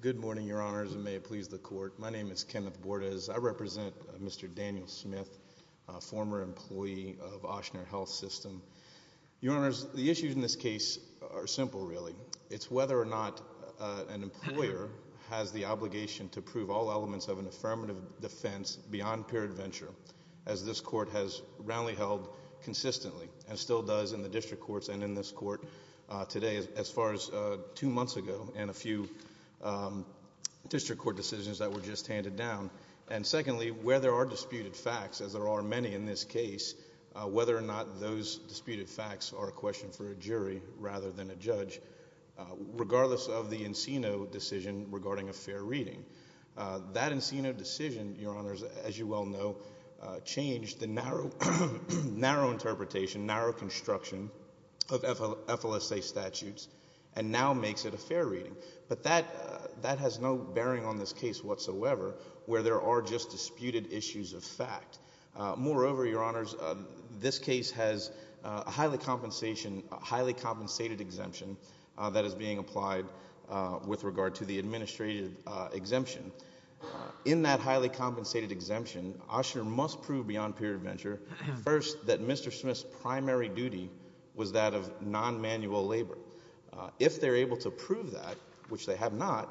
Good morning, Your Honors, and may it please the Court, my name is Kenneth Bordas. I represent Mr. Daniel Smith, a former employee of Ochsner Health System. Your Honors, the issues in this case are simple, really. It's whether or not an employer has the obligation to prove all elements of an affirmative defense beyond peer adventure, as this Court has roundly held consistently, and still does in the District Court today, as far as two months ago and a few District Court decisions that were just handed down. And secondly, where there are disputed facts, as there are many in this case, whether or not those disputed facts are a question for a jury rather than a judge, regardless of the Encino decision regarding a fair reading. That Encino decision, Your Honors, as you well know, changed the narrow interpretation, narrow construction of FLSA statutes, and now makes it a fair reading. But that has no bearing on this case whatsoever, where there are just disputed issues of fact. Moreover, Your Honors, this case has a highly compensated exemption that is being applied with regard to the administrative exemption. In that highly compensated exemption, Ochsner must prove beyond peer adventure, first, that Mr. Smith's primary duty was that of non-manual labor. If they're able to prove that, which they have not,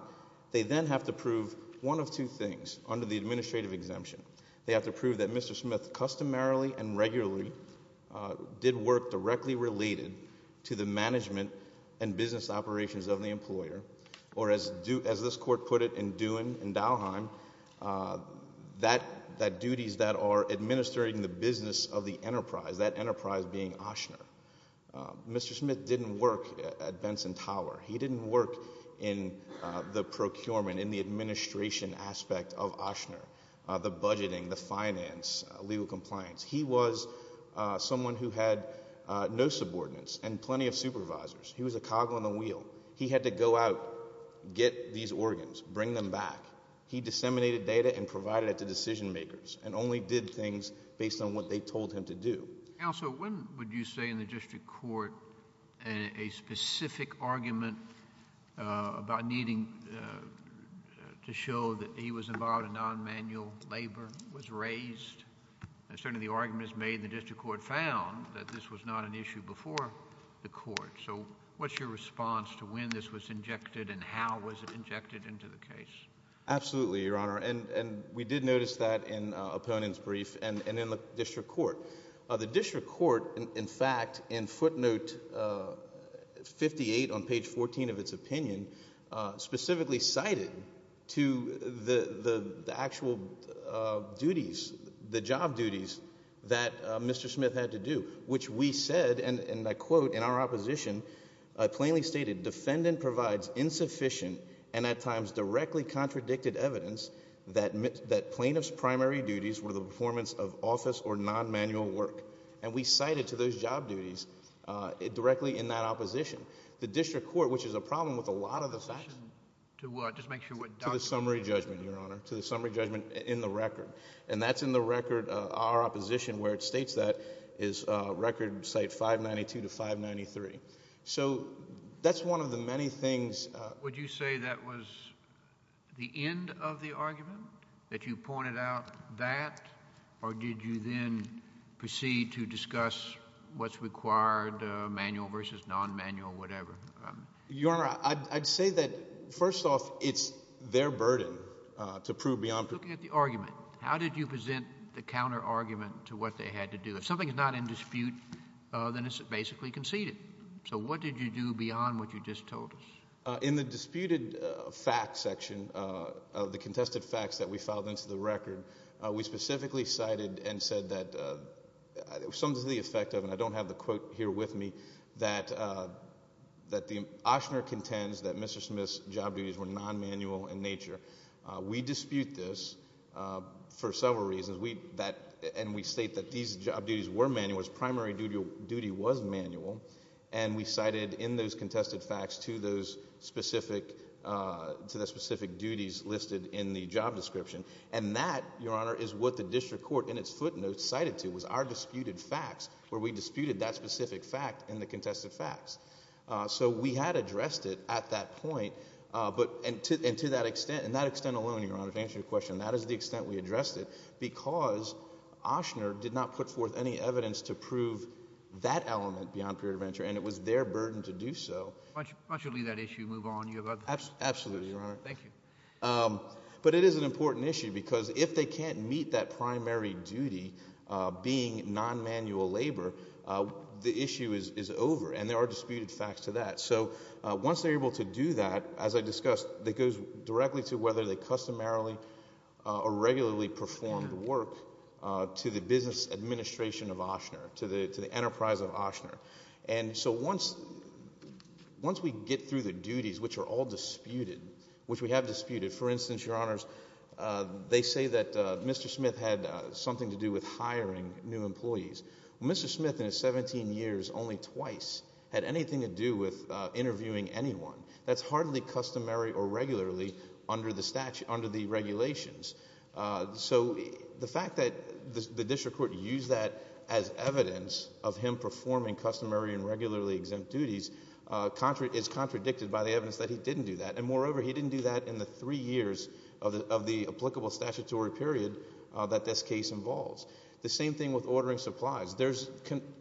they then have to prove one of two things under the administrative exemption. They have to prove that Mr. Smith customarily and regularly did work directly related to the management and business operations of the employer, or as this Court put it in Dewan in Dalheim, that duties that are administering the business of the enterprise, that enterprise being Ochsner. Mr. Smith didn't work at Benson Tower. He didn't work in the procurement, in the administration aspect of Ochsner, the budgeting, the finance, legal compliance. He was someone who had no subordinates and plenty of supervisors. He was a cog in the wheel. He had to go out, get these organs, bring them back. He disseminated data and provided it to decision-makers and only did things based on what they told him to do. Counsel, when would you say in the district court a specific argument about needing to show that he was involved in non-manual labor was raised? Certainly the arguments made in the district court found that this was not an issue before the court. What's your response to when this was injected and how was it injected into the case? Absolutely, Your Honor. We did notice that in Opponent's brief and in the district court. The district court, in fact, in footnote 58 on page 14 of its opinion, specifically cited to the actual duties, the job duties that Mr. Smith had to do, which we said, and I think in our opposition, plainly stated, defendant provides insufficient and at times directly contradicted evidence that plaintiff's primary duties were the performance of office or non-manual work. We cited to those job duties directly in that opposition. The district court, which is a problem with a lot of the facts, to the summary judgment in the record. That's in the record, our opposition, where it states that is record site 592 to 593. That's one of the many things. Would you say that was the end of the argument, that you pointed out that, or did you then proceed to discuss what's required, manual versus non-manual, whatever? Your Honor, I'd say that, first off, it's their burden to prove beyond... I'm looking at the argument. How did you present the counter-argument to what they had to do? If something is not in dispute, then it's basically conceded. What did you do beyond what you just told us? In the disputed facts section of the contested facts that we filed into the record, we specifically cited and said that... some to the effect of, and I don't have the quote here with me, that Oshner contends that Mr. Smith's job duties were non-manual in nature. We dispute this for several reasons. We state that these job duties were manual, his primary duty was manual, and we cited in those contested facts to the specific duties listed in the job description. That, Your Honor, is what the district court in its footnotes cited to, was our disputed facts, where we disputed that specific fact in the contested facts. So we had addressed it at that point, but... and to that extent, and that extent alone, Your Honor, to answer your question, that is the extent we addressed it, because Oshner did not put forth any evidence to prove that element beyond period of venture, and it was their burden to do so. Why don't you leave that issue and move on? You have other... Absolutely, Your Honor. Thank you. But it is an important issue, because if they can't meet that primary duty being non-manual labor, the issue is over, and there are disputed facts to that. So once they're able to do that, as I discussed, that goes directly to whether they customarily or regularly performed work to the business administration of Oshner, to the enterprise of Oshner. And so once we get through the duties, which are all disputed, which we have disputed, for instance, Your Honors, they say that Mr. Smith had something to do with hiring new people. Mr. Smith, in his 17 years, only twice had anything to do with interviewing anyone. That's hardly customary or regularly under the regulations. So the fact that the district court used that as evidence of him performing customary and regularly exempt duties is contradicted by the evidence that he didn't do that, and moreover, he didn't do that in the three years of the applicable statutory period that this case involves. The same thing with ordering supplies. There's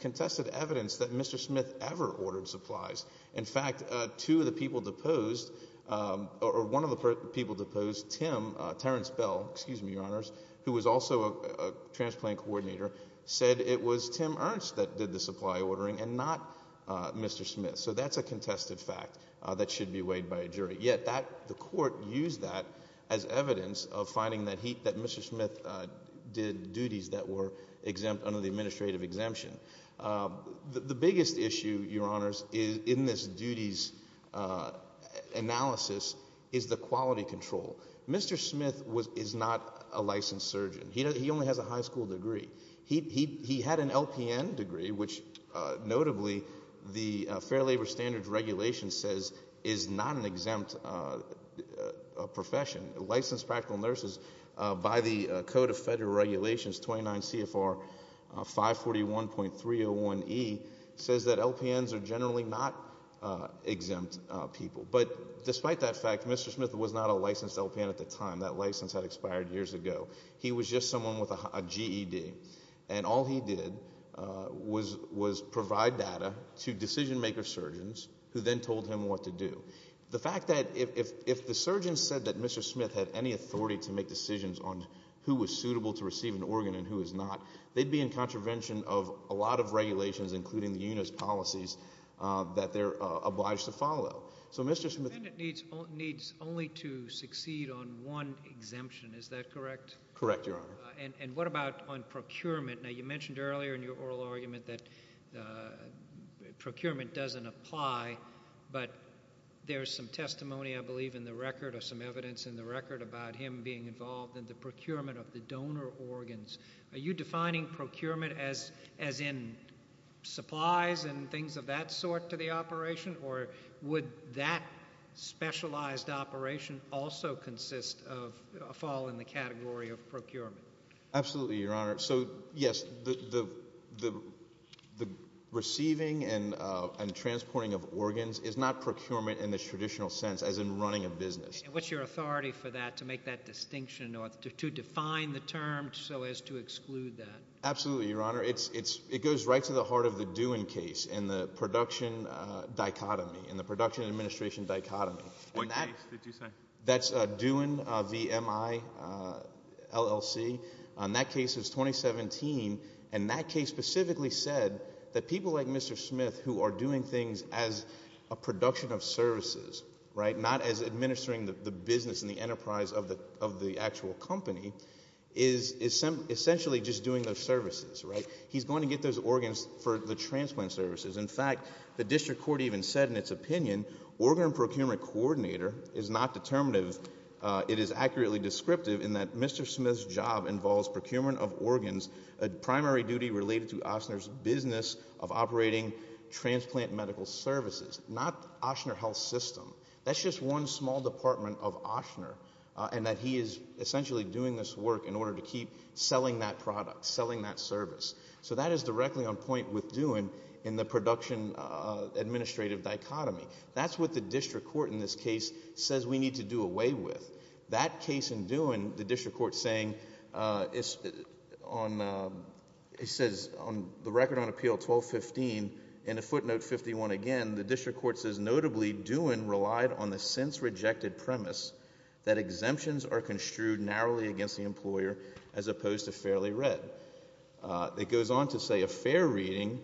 contested evidence that Mr. Smith ever ordered supplies. In fact, two of the people deposed, or one of the people deposed, Tim, Terrence Bell, excuse me, Your Honors, who was also a transplant coordinator, said it was Tim Ernst that did the supply ordering and not Mr. Smith. So that's a contested fact that should be weighed by a jury. Yet that, the court used that as evidence of finding that he, that Mr. Smith did duties that were exempt under the administrative exemption. The biggest issue, Your Honors, in this duties analysis is the quality control. Mr. Smith is not a licensed surgeon. He only has a high school degree. He had an LPN degree, which notably the Fair Labor Standards Regulations says is not an exempt profession. Licensed Practical Nurses, by the Code of Federal Regulations, 29 CFR 541.301E, says that LPNs are generally not exempt people. But despite that fact, Mr. Smith was not a licensed LPN at the time. That license had expired years ago. He was just someone with a GED. And all he did was provide data to decision maker surgeons who then told him what to do. The fact that if the surgeon said that Mr. Smith had any authority to make decisions on who was suitable to receive an organ and who was not, they'd be in contravention of a lot of regulations, including the unit's policies, that they're obliged to follow. So Mr. Smith- The defendant needs only to succeed on one exemption. Is that correct? Correct, Your Honor. And what about on procurement? Now, you mentioned earlier in your oral argument that procurement doesn't apply, but there's some testimony, I believe, in the record, or some evidence in the record, about him being involved in the procurement of the donor organs. Are you defining procurement as in supplies and things of that sort to the operation? Or would that specialized operation also consist of a fall in the category of procurement? Absolutely, Your Honor. So, yes, the receiving and transporting of organs is not procurement in the traditional sense, as in running a business. What's your authority for that, to make that distinction or to define the term so as to exclude that? Absolutely, Your Honor. It goes right to the heart of the Doon case in the production dichotomy, in the production administration dichotomy. What case did you say? That's Doon, V-M-I-L-L-C. That case is 2017, and that case specifically said that people like Mr. Smith, who are doing things as a production of services, right, not as administering the business and the enterprise of the actual company, is essentially just doing those services, right? He's going to get those organs for the transplant services. In fact, the district court even said in its opinion, organ procurement coordinator is not determinative. It is accurately descriptive in that Mr. Smith's job involves procurement of organs, a primary duty related to Ochsner's business of operating transplant medical services, not Ochsner Health System. That's just one small department of Ochsner, and that he is essentially doing this work in order to keep selling that product, selling that service. So that is directly on point with Doon in the production administrative dichotomy. That's what the district court in this case says we need to do away with. That case in Doon, the district court saying, it says on the record on appeal 1215, and a footnote 51 again, the district court says, notably, Doon relied on the since-rejected premise that exemptions are construed narrowly against the employer as opposed to fairly read. It goes on to say, a fair reading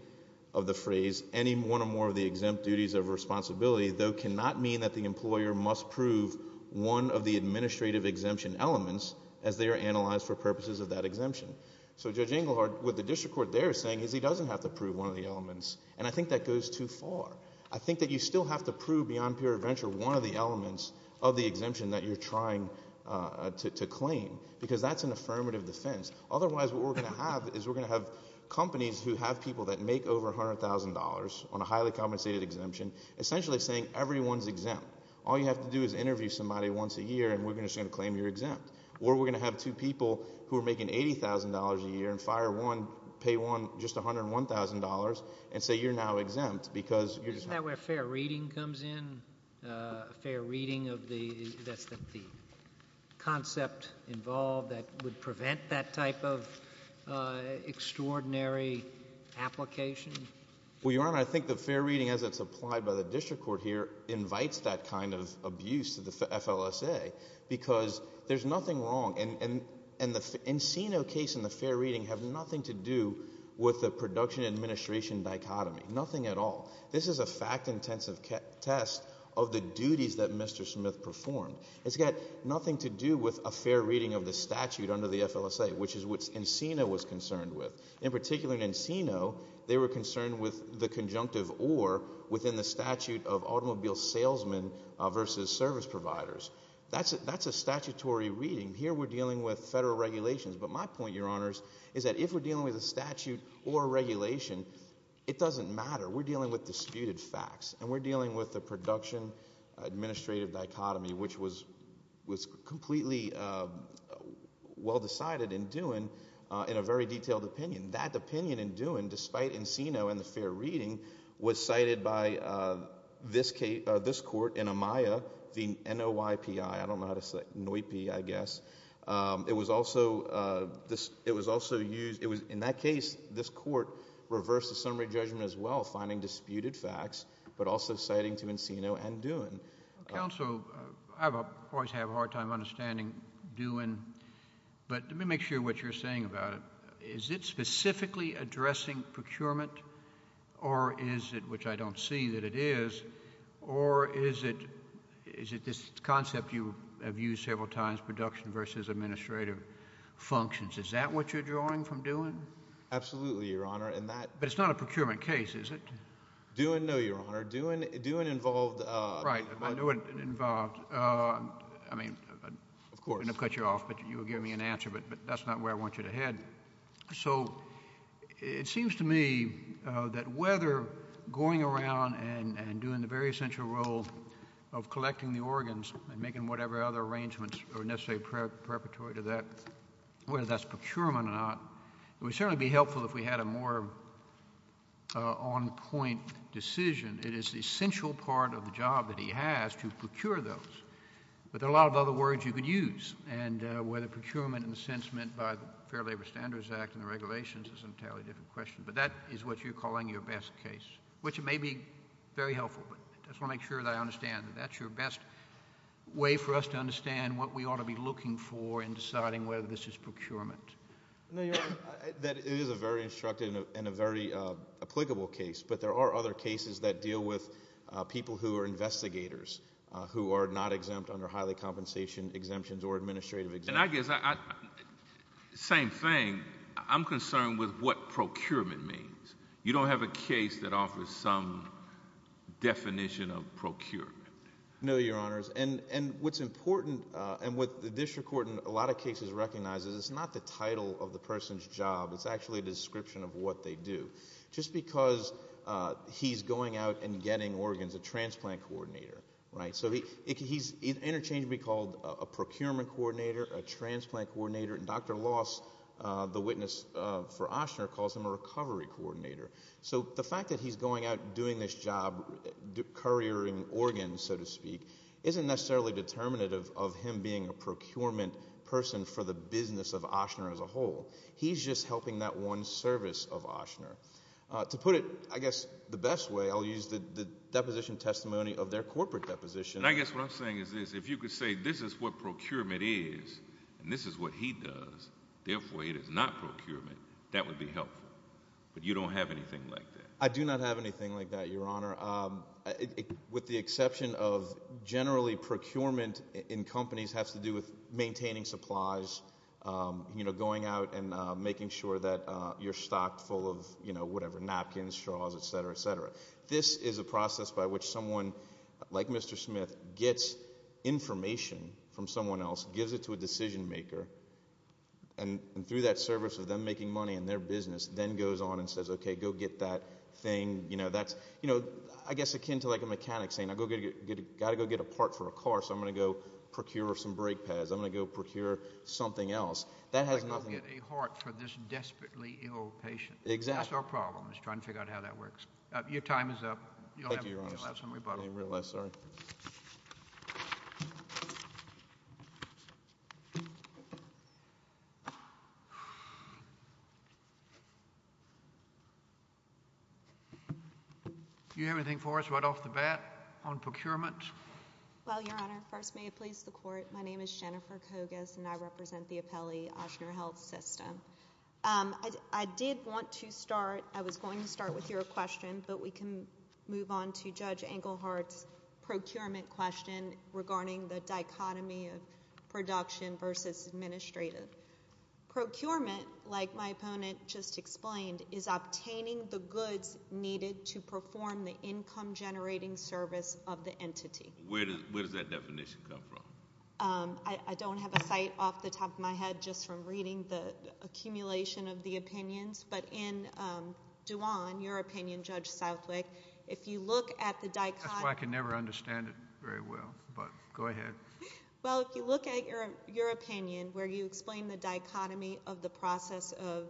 of the phrase, any one or more of the exempt duties of responsibility, though, cannot mean that the employer must prove one of the administrative exemption elements as they are analyzed for purposes of that exemption. So Judge Engelhardt, what the district court there is saying is he doesn't have to prove one of the elements, and I think that goes too far. I think that you still have to prove beyond pure adventure one of the elements of the exemption that you're trying to claim, because that's an affirmative defense. Otherwise, what we're going to have is we're going to have companies who have people that have a highly compensated exemption essentially saying, everyone's exempt. All you have to do is interview somebody once a year, and we're just going to claim you're exempt. Or we're going to have two people who are making $80,000 a year and fire one, pay one just $101,000, and say, you're now exempt, because you're just not. Isn't that where fair reading comes in? Fair reading of the, that's the concept involved that would prevent that type of extraordinary application? Well, Your Honor, I think the fair reading as it's applied by the district court here invites that kind of abuse to the FLSA, because there's nothing wrong, and the Encino case and the fair reading have nothing to do with the production administration dichotomy, nothing at all. This is a fact-intensive test of the duties that Mr. Smith performed. It's got nothing to do with a fair reading of the statute under the FLSA, which is what Encino was concerned with. In particular in Encino, they were concerned with the conjunctive or within the statute of automobile salesmen versus service providers. That's a statutory reading. Here we're dealing with federal regulations, but my point, Your Honors, is that if we're dealing with a statute or a regulation, it doesn't matter. We're dealing with disputed facts, and we're dealing with the production administrative dichotomy, which was completely well decided in Duin in a very detailed opinion. That opinion in Duin, despite Encino and the fair reading, was cited by this court in Amaya, the NOIPI. I don't know how to say it, NOIPI, I guess. It was also used... in that case, this court reversed the summary judgment as well, finding disputed facts, but also citing to Encino and Duin. Counsel, I always have a hard time understanding Duin, but let me make sure what you're saying about it. Is it specifically addressing procurement, or is it, which I don't see that it is, or is it this concept you have used several times, production versus administrative functions? Is that what you're drawing from Duin? Absolutely, Your Honor. But it's not a procurement case, is it? Duin, no, Your Honor. Duin involved... Right. Duin involved. I mean... Of course. I'm going to cut you off, but you were giving me an answer, but that's not where I want you to head. So it seems to me that whether going around and doing the very essential role of collecting the organs and making whatever other arrangements are necessary preparatory to that, whether that's procurement or not, it would certainly be helpful if we had a more on-point decision. It is the essential part of the job that he has to procure those, but there are a lot of other words you could use, and whether procurement in a sense meant by the Fair Labor Standards Act and the regulations is an entirely different question, but that is what you're calling your best case, which may be very helpful, but I just want to make sure that I understand that that's your best way for us to understand what we ought to be looking for in deciding whether this is procurement. No, Your Honor, it is a very instructive and a very applicable case, but there are other cases that deal with people who are investigators, who are not exempt under highly compensation exemptions or administrative exemptions. And I guess, same thing, I'm concerned with what procurement means. You don't have a case that offers some definition of procurement. No, Your Honors, and what's important and what the district court in a lot of cases recognizes is it's not the title of the person's job, it's actually a description of what they do. Just because he's going out and getting organs, a transplant coordinator, right? So he's interchangeably called a procurement coordinator, a transplant coordinator, and Dr. Loss, the witness for Ochsner, calls him a recovery coordinator. So the fact that he's going out and doing this job, couriering organs, so to speak, isn't necessarily determinative of him being a procurement person for the business of Ochsner as a whole. He's just helping that one service of Ochsner. To put it, I guess, the best way, I'll use the deposition testimony of their corporate deposition. And I guess what I'm saying is this, if you could say this is what procurement is and this is what he does, therefore it is not procurement, that would be helpful, but you don't have anything like that. I do not have anything like that, Your Honor, with the exception of generally procurement in companies has to do with maintaining supplies, going out and making sure that you're stocked full of whatever, napkins, straws, et cetera, et cetera. This is a process by which someone like Mr. Smith gets information from someone else, gives it to a decision maker, and through that service of them making money in their business then goes on and says, okay, go get that thing. That's, I guess, akin to like a mechanic saying, I've got to go get a part for a car, so I'm going to go procure some brake pads, I'm going to go procure something else. That has nothing- Like go get a heart for this desperately ill patient. Exactly. That's our problem, is trying to figure out how that works. Your time is up. Thank you, Your Honor. You'll have some rebuttals. I didn't realize, sorry. Do you have anything for us right off the bat on procurement? Well, Your Honor, first may it please the Court, my name is Jennifer Kogas and I represent the appellee, Ochsner Health System. I did want to start, I was going to start with your question, but we can move on to Judge Engelhardt's procurement question regarding the dichotomy of production versus administrative. Procurement, like my opponent just explained, is obtaining the goods needed to perform the income generating service of the entity. Where does that definition come from? I don't have a site off the top of my head just from reading the accumulation of the opinions, but in Duan, your opinion, Judge Southwick, if you look at the dichotomy- That's why I can never understand it very well, but go ahead. Well, if you look at your opinion where you explain the dichotomy of the process of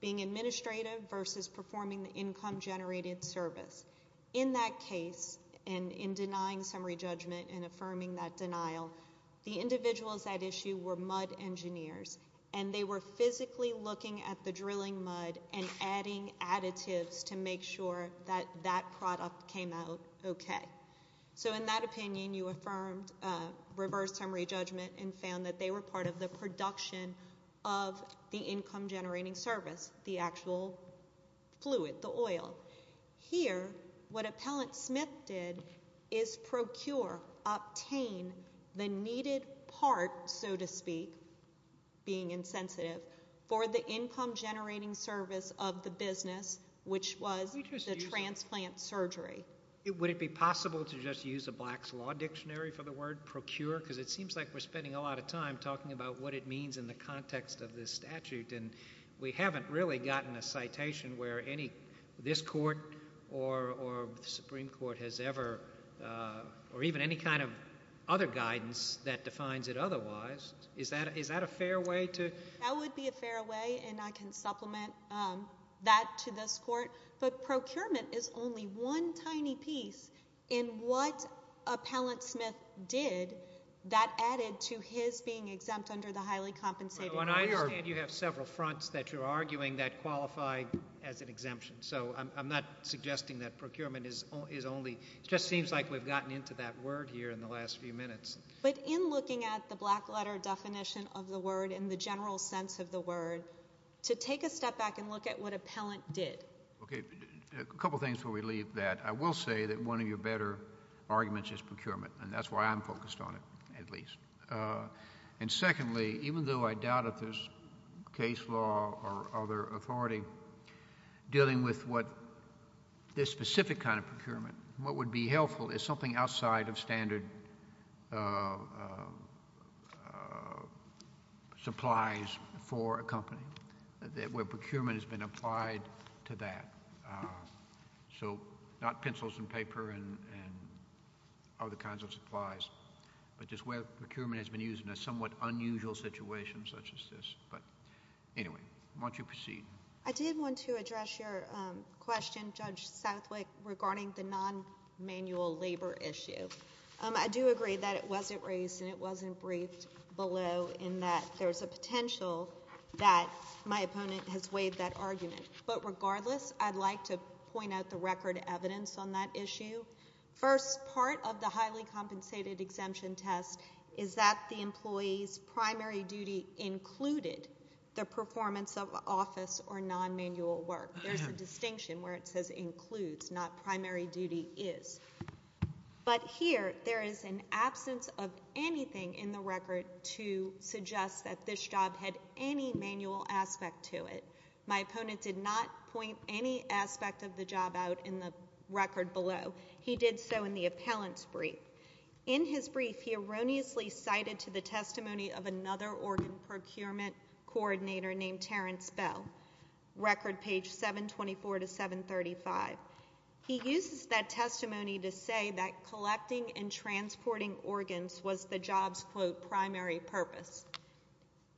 being administrative versus performing the income generated service, in that case, and in denying summary judgment and affirming that denial, the individuals at issue were mud engineers and they were physically looking at the drilling mud and adding additives to make sure that that product came out okay. In that opinion, you affirmed reverse summary judgment and found that they were part of the production of the income generating service, the actual fluid, the oil. Here, what Appellant Smith did is procure, obtain the needed part, so to speak, being insensitive, for the income generating service of the business, which was the transplant surgery. Would it be possible to just use a black's law dictionary for the word procure, because it seems like we're spending a lot of time talking about what it means in the context of this statute, and we haven't really gotten a citation where this court or the Supreme Court has ever, or even any kind of other guidance that defines it otherwise. Is that a fair way to- That would be a fair way, and I can supplement that to this court, but procurement is only one tiny piece in what Appellant Smith did that added to his being exempt under the highly compensated- Well, and I understand you have several fronts that you're arguing that qualify as an exemption, so I'm not suggesting that procurement is only, it just seems like we've gotten into that word here in the last few minutes. But in looking at the black letter definition of the word and the general sense of the word, to take a step back and look at what Appellant did. Okay. A couple of things before we leave that. I will say that one of your better arguments is procurement, and that's why I'm focused on it, at least. And secondly, even though I doubt if there's case law or other authority dealing with what this specific kind of procurement, what would be helpful is something outside of standard supplies for a company, where procurement has been applied to that, so not pencils and paper and other kinds of supplies, but just where procurement has been used in a somewhat unusual situation such as this. But anyway, why don't you proceed? I did want to address your question, Judge Southwick, regarding the non-manual labor issue. I do agree that it wasn't raised and it wasn't briefed below in that there's a potential that my opponent has waived that argument. But regardless, I'd like to point out the record evidence on that issue. First part of the highly compensated exemption test is that the employee's primary duty included the performance of office or non-manual work. There's a distinction where it says includes, not primary duty is. But here, there is an absence of anything in the record to suggest that this job had any manual aspect to it. My opponent did not point any aspect of the job out in the record below. He did so in the appellant's brief. In his brief, he erroneously cited to the testimony of another organ procurement coordinator named Terrence Bell, record page 724 to 735. He uses that testimony to say that collecting and transporting organs was the job's, quote, primary purpose.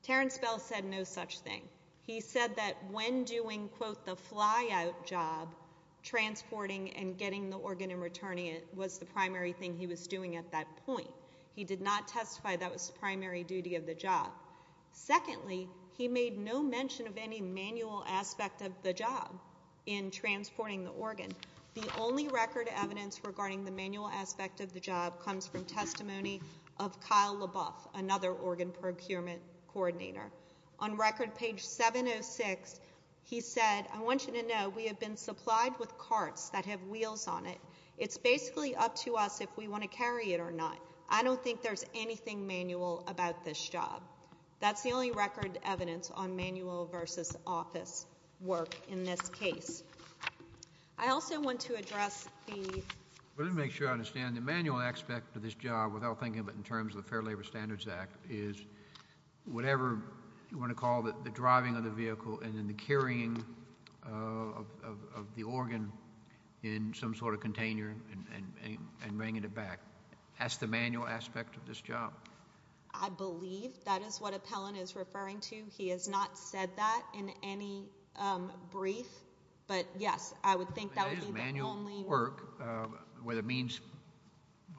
Terrence Bell said no such thing. He said that when doing, quote, the fly-out job, transporting and getting the organ and returning it was the primary thing he was doing at that point. He did not testify that was the primary duty of the job. Secondly, he made no mention of any manual aspect of the job in transporting the organ. The only record evidence regarding the manual aspect of the job comes from testimony of Kyle LaBoeuf, another organ procurement coordinator. On record page 706, he said, I want you to know we have been supplied with carts that have wheels on it. It's basically up to us if we want to carry it or not. I don't think there's anything manual about this job. That's the only record evidence on manual versus office work in this case. I also want to address the... Let me make sure I understand. The manual aspect of this job, without thinking of it in terms of the Fair Labor Standards Act, is whatever you want to call the driving of the vehicle and then the carrying of the organ in some sort of container and bringing it back. That's the manual aspect of this job. I believe that is what Appellant is referring to. He has not said that in any brief, but yes, I would think that would be the only... Manual work, whether it means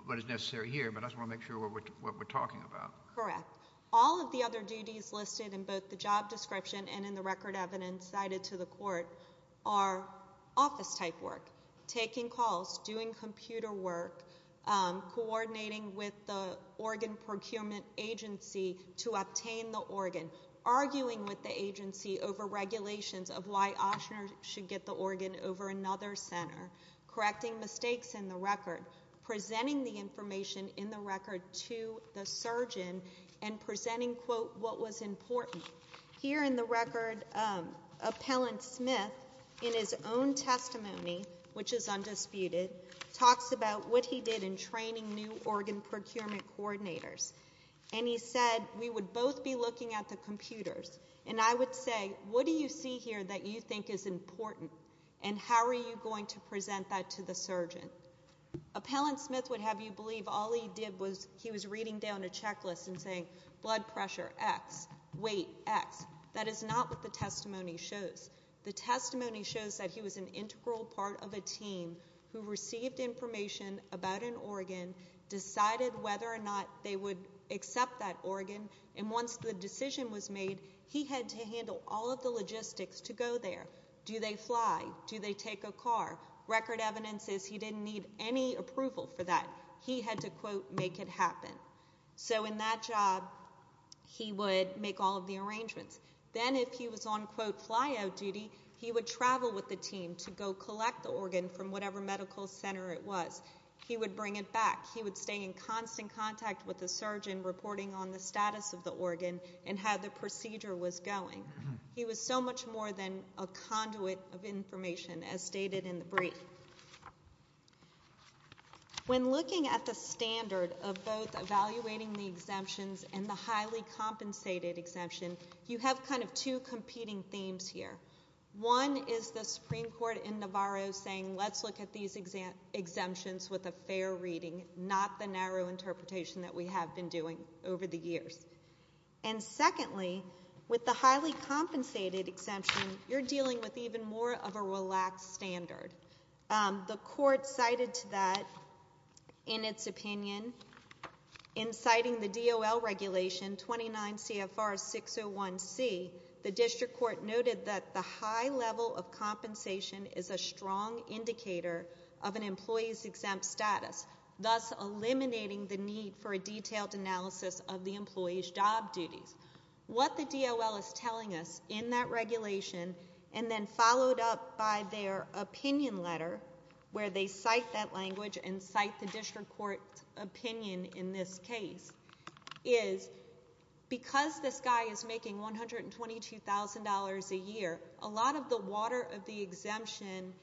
what is necessary here, but I just want to make sure what we're talking about. Correct. All of the other duties listed in both the job description and in the record evidence cited to the court are office type work, taking calls, doing computer work, coordinating with the organ procurement agency to obtain the organ, arguing with the agency over regulations of why Oshner should get the organ over another center, correcting mistakes in the record, presenting the information in the record to the surgeon, and presenting, quote, what was important. Here in the record, Appellant Smith, in his own testimony, which is undisputed, talks about what he did in training new organ procurement coordinators, and he said, we would both be looking at the computers, and I would say, what do you see here that you think is important, and how are you going to present that to the surgeon? Appellant Smith would have you believe all he did was he was reading down a checklist and saying blood pressure X, weight X. That is not what the testimony shows. The testimony shows that he was an integral part of a team who received information about an organ, decided whether or not they would accept that organ, and once the decision was made, he had to handle all of the logistics to go there. Do they fly? Do they take a car? Record evidence says he didn't need any approval for that. He had to, quote, make it happen. So in that job, he would make all of the arrangements. Then if he was on, quote, fly out duty, he would travel with the team to go collect the organ from whatever medical center it was. He would bring it back. He would stay in constant contact with the surgeon reporting on the status of the organ and how the procedure was going. He was so much more than a conduit of information, as stated in the brief. So when looking at the standard of both evaluating the exemptions and the highly compensated exemption, you have kind of two competing themes here. One is the Supreme Court in Navarro saying let's look at these exemptions with a fair reading, not the narrow interpretation that we have been doing over the years. And secondly, with the highly compensated exemption, you're dealing with even more of a relaxed standard. The court cited to that, in its opinion, in citing the DOL regulation 29 CFR 601C, the district court noted that the high level of compensation is a strong indicator of an employee's exempt status, thus eliminating the need for a detailed analysis of the employee's job duties. What the DOL is telling us in that regulation, and then followed up by their opinion letter, where they cite that language and cite the district court's opinion in this case, is because this guy is making $122,000 a year, a lot of the water of the exemption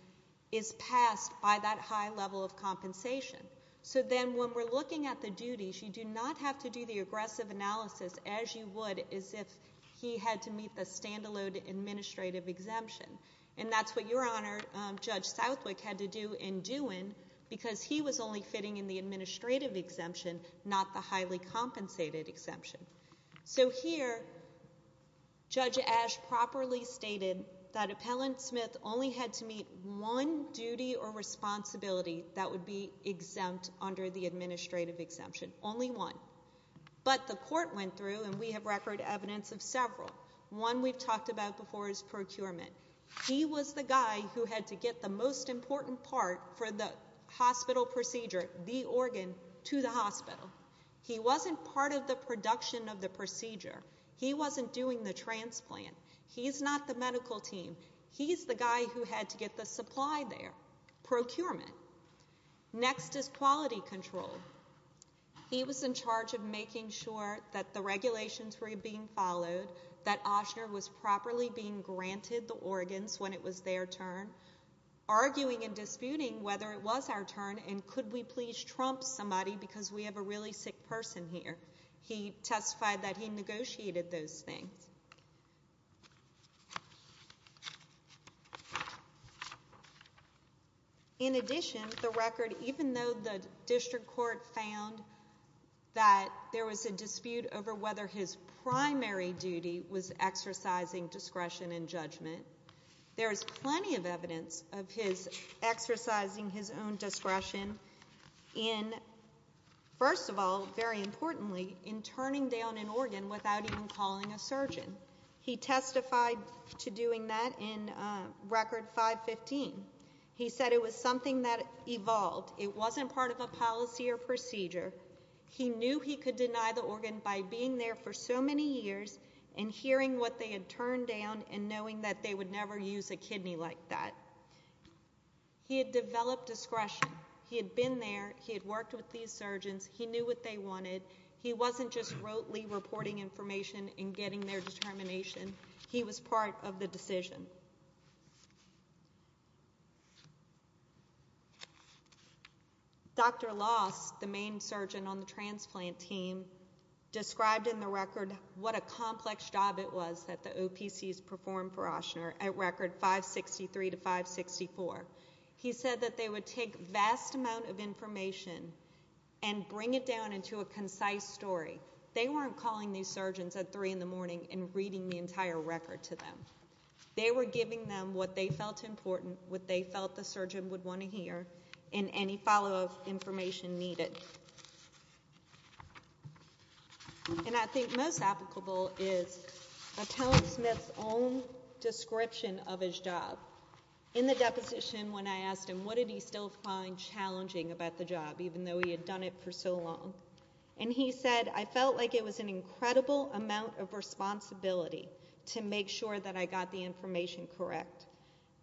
is passed by that high level of compensation. So then when we're looking at the duties, you do not have to do the aggressive analysis as you would as if he had to meet the standalone administrative exemption. And that's what Your Honor, Judge Southwick had to do in Dewin, because he was only fitting in the administrative exemption, not the highly compensated exemption. So here, Judge Ash properly stated that Appellant Smith only had to meet one duty or responsibility that would be exempt under the administrative exemption, only one. But the court went through, and we have record evidence of several. One we've talked about before is procurement. He was the guy who had to get the most important part for the hospital procedure, the organ, to the hospital. He wasn't part of the production of the procedure. He wasn't doing the transplant. He's not the medical team. He's the guy who had to get the supply there, procurement. Next is quality control. He was in charge of making sure that the regulations were being followed, that Osher was properly being granted the organs when it was their turn, arguing and disputing whether it was our turn and could we please trump somebody because we have a really sick person here. He testified that he negotiated those things. In addition, the record, even though the district court found that there was a dispute over whether his primary duty was exercising discretion and judgment, there is plenty of evidence of his exercising his own discretion in, first of all, very importantly, in turning down an organ without even calling a surgeon. He testified to doing that in Record 515. He said it was something that evolved. It wasn't part of a policy or procedure. He knew he could deny the organ by being there for so many years and hearing what they had turned down and knowing that they would never use a kidney like that. He had developed discretion. He had been there. He had worked with these surgeons. He knew what they wanted. He wasn't just rotely reporting information and getting their determination. He was part of the decision. Dr. Loss, the main surgeon on the transplant team, described in the record what a complex job it was that the OPCs performed for Osher at Record 563 to 564. He said that they would take vast amount of information and bring it down into a concise story. They weren't calling these surgeons at 3 in the morning and reading the entire record to them. They were giving them what they felt important, what they felt the surgeon would want to hear, and any follow-up information needed. And I think most applicable is Atone Smith's own description of his job in the deposition when I asked him what did he still find challenging about the job even though he had done it for so long. And he said, I felt like it was an incredible amount of responsibility to make sure that I got the information correct.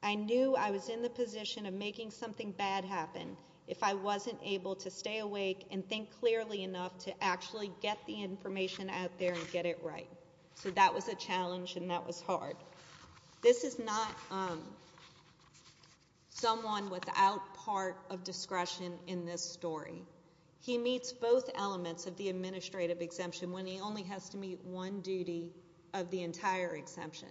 I knew I was in the position of making something bad happen if I wasn't able to stay awake and think clearly enough to actually get the information out there and get it right. So that was a challenge and that was hard. This is not someone without part of discretion in this story. He meets both elements of the administrative exemption when he only has to meet one duty of the entire exemption.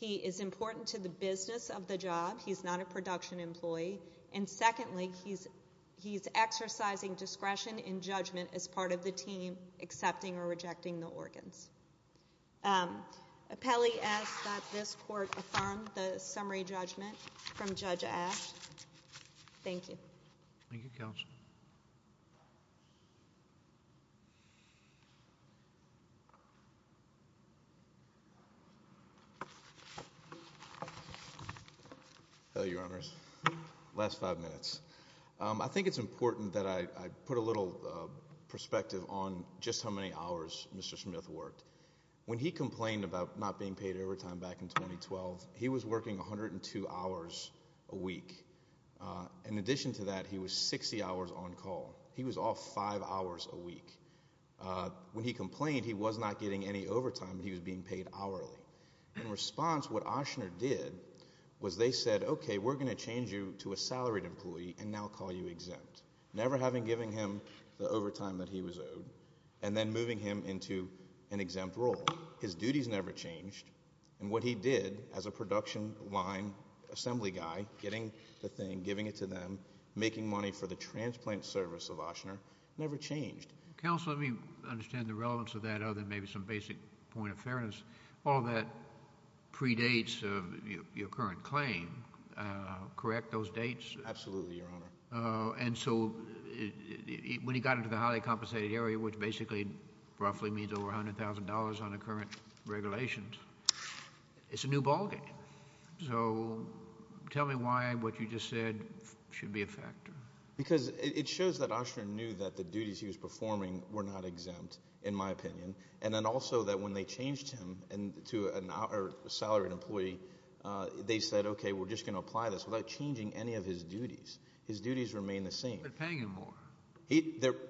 He is important to the business of the job. He's not a production employee. And secondly, he's exercising discretion and judgment as part of the team accepting or rejecting the organs. Pelley asks that this court affirm the summary judgment from Judge Ash. Thank you. Thank you, Counsel. Hello, Your Honors. Last five minutes. I think it's important that I put a little perspective on just how many hours Mr. Smith worked. When he complained about not being paid overtime back in 2012, he was working 102 hours a week. In addition to that, he was 60 hours on call. He was off five hours a week. When he complained, he was not getting any overtime. He was being paid hourly. In response, what Ochsner did was they said, okay, we're going to change you to a salaried employee and now call you exempt. Never having given him the overtime that he was owed and then moving him into an exempt role. His duties never changed. And what he did as a production line assembly guy, getting the thing, giving it to them, making money for the transplant service of Ochsner, never changed. Counsel, let me understand the relevance of that other than maybe some basic point of fairness. All that predates your current claim, correct? Those dates? Absolutely, Your Honor. And so when he got into the highly compensated area, which basically roughly means over $100,000 on the current regulations, it's a new ballgame. So tell me why what you just said should be a factor. Because it shows that Ochsner knew that the duties he was performing were not exempt, in my opinion. And then also that when they changed him to a salaried employee, they said, okay, we're just going to apply this. We're not changing any of his duties. His duties remain the same. But paying him more.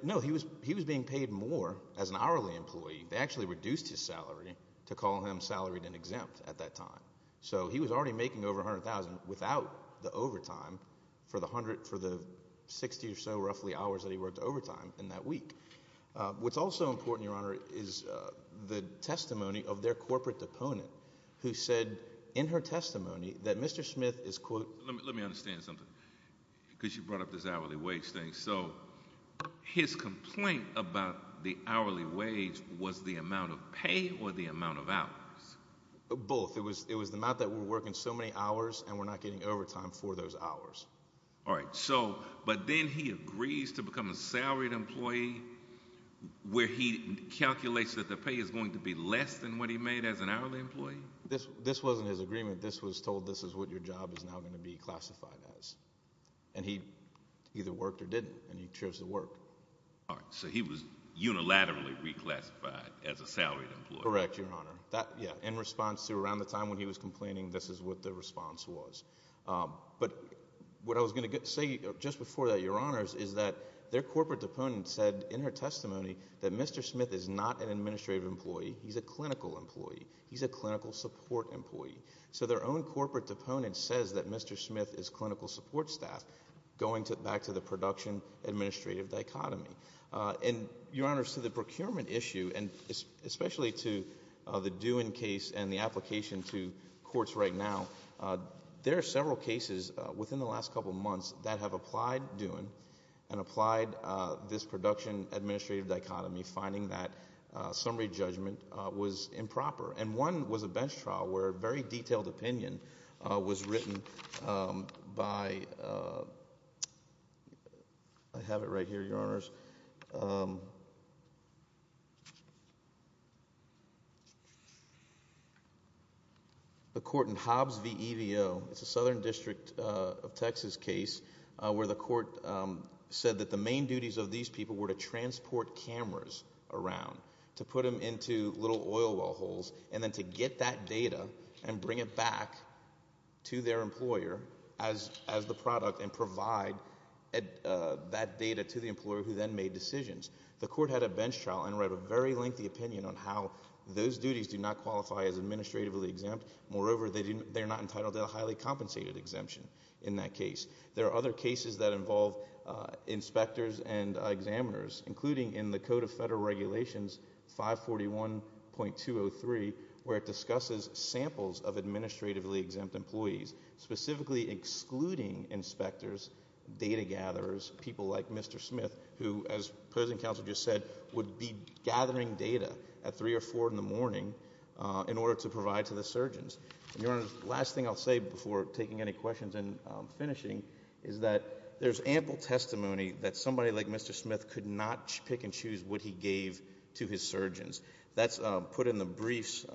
No, he was being paid more as an hourly employee. They actually reduced his salary to call him salaried and exempt at that time. So he was already making over $100,000 without the overtime for the 60 or so roughly hours that he worked overtime in that week. What's also important, Your Honor, is the testimony of their corporate opponent who said in her testimony that Mr. Smith is, quote... Let me understand something, because you brought up this hourly wage thing. So his complaint about the hourly wage was the amount of pay or the amount of hours? Both. It was the amount that we were working so many hours, and we're not getting overtime for those hours. All right. So, but then he agrees to become a salaried employee where he calculates that the pay is going to be less than what he made as an hourly employee? This wasn't his agreement. This was told this is what your job is now going to be classified as. And he either worked or didn't, and he chose to work. All right. So he was unilaterally reclassified as a salaried employee? Correct, Your Honor. That, yeah. In response to around the time when he was complaining, this is what the response was. But what I was going to say just before that, Your Honors, is that their corporate opponent said in her testimony that Mr. Smith is not an administrative employee. He's a clinical employee. He's a clinical support employee. So their own corporate opponent says that Mr. Smith is clinical support staff, going back to the production-administrative dichotomy. And Your Honors, to the procurement issue, and especially to the Duin case and the application to courts right now, there are several cases within the last couple of months that have applied Duin and applied this production-administrative dichotomy, finding that summary judgment was improper. And one was a bench trial where a very detailed opinion was written by... I have it right here, Your Honors. The court in Hobbs v. Evo, it's a Southern District of Texas case, where the court said that the main duties of these people were to transport cameras around, to put them into little oil well holes, and then to get that data and bring it back to their employer as the product and provide that data to the employer who then made decisions. The court had a bench trial and wrote a very lengthy opinion on how those duties do not qualify as administratively exempt. Moreover, they're not entitled to a highly compensated exemption in that case. There are other cases that involve inspectors and examiners, including in the Code of Federal Regulations 541.203, where it discusses samples of administratively exempt employees, specifically excluding inspectors, data gatherers, people like Mr. Smith, who, as President Counsel just said, would be gathering data at three or four in the morning in order to provide to the surgeons. And, Your Honors, the last thing I'll say before taking any questions and finishing is that there's ample testimony that somebody like Mr. Smith could not pick and choose what he gave to his surgeons. That's put in the briefs,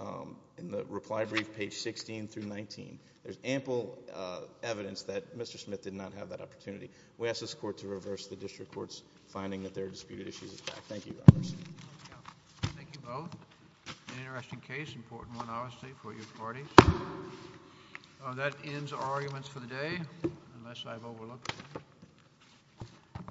in the reply brief, page 16 through 19. There's ample evidence that Mr. Smith did not have that opportunity. We ask this Court to reverse the District Court's finding that there are disputed issues of fact. Thank you, Your Honors. Thank you both. An interesting case, an important one, obviously, for your parties. That ends our arguments for the day, unless I've overlooked anything.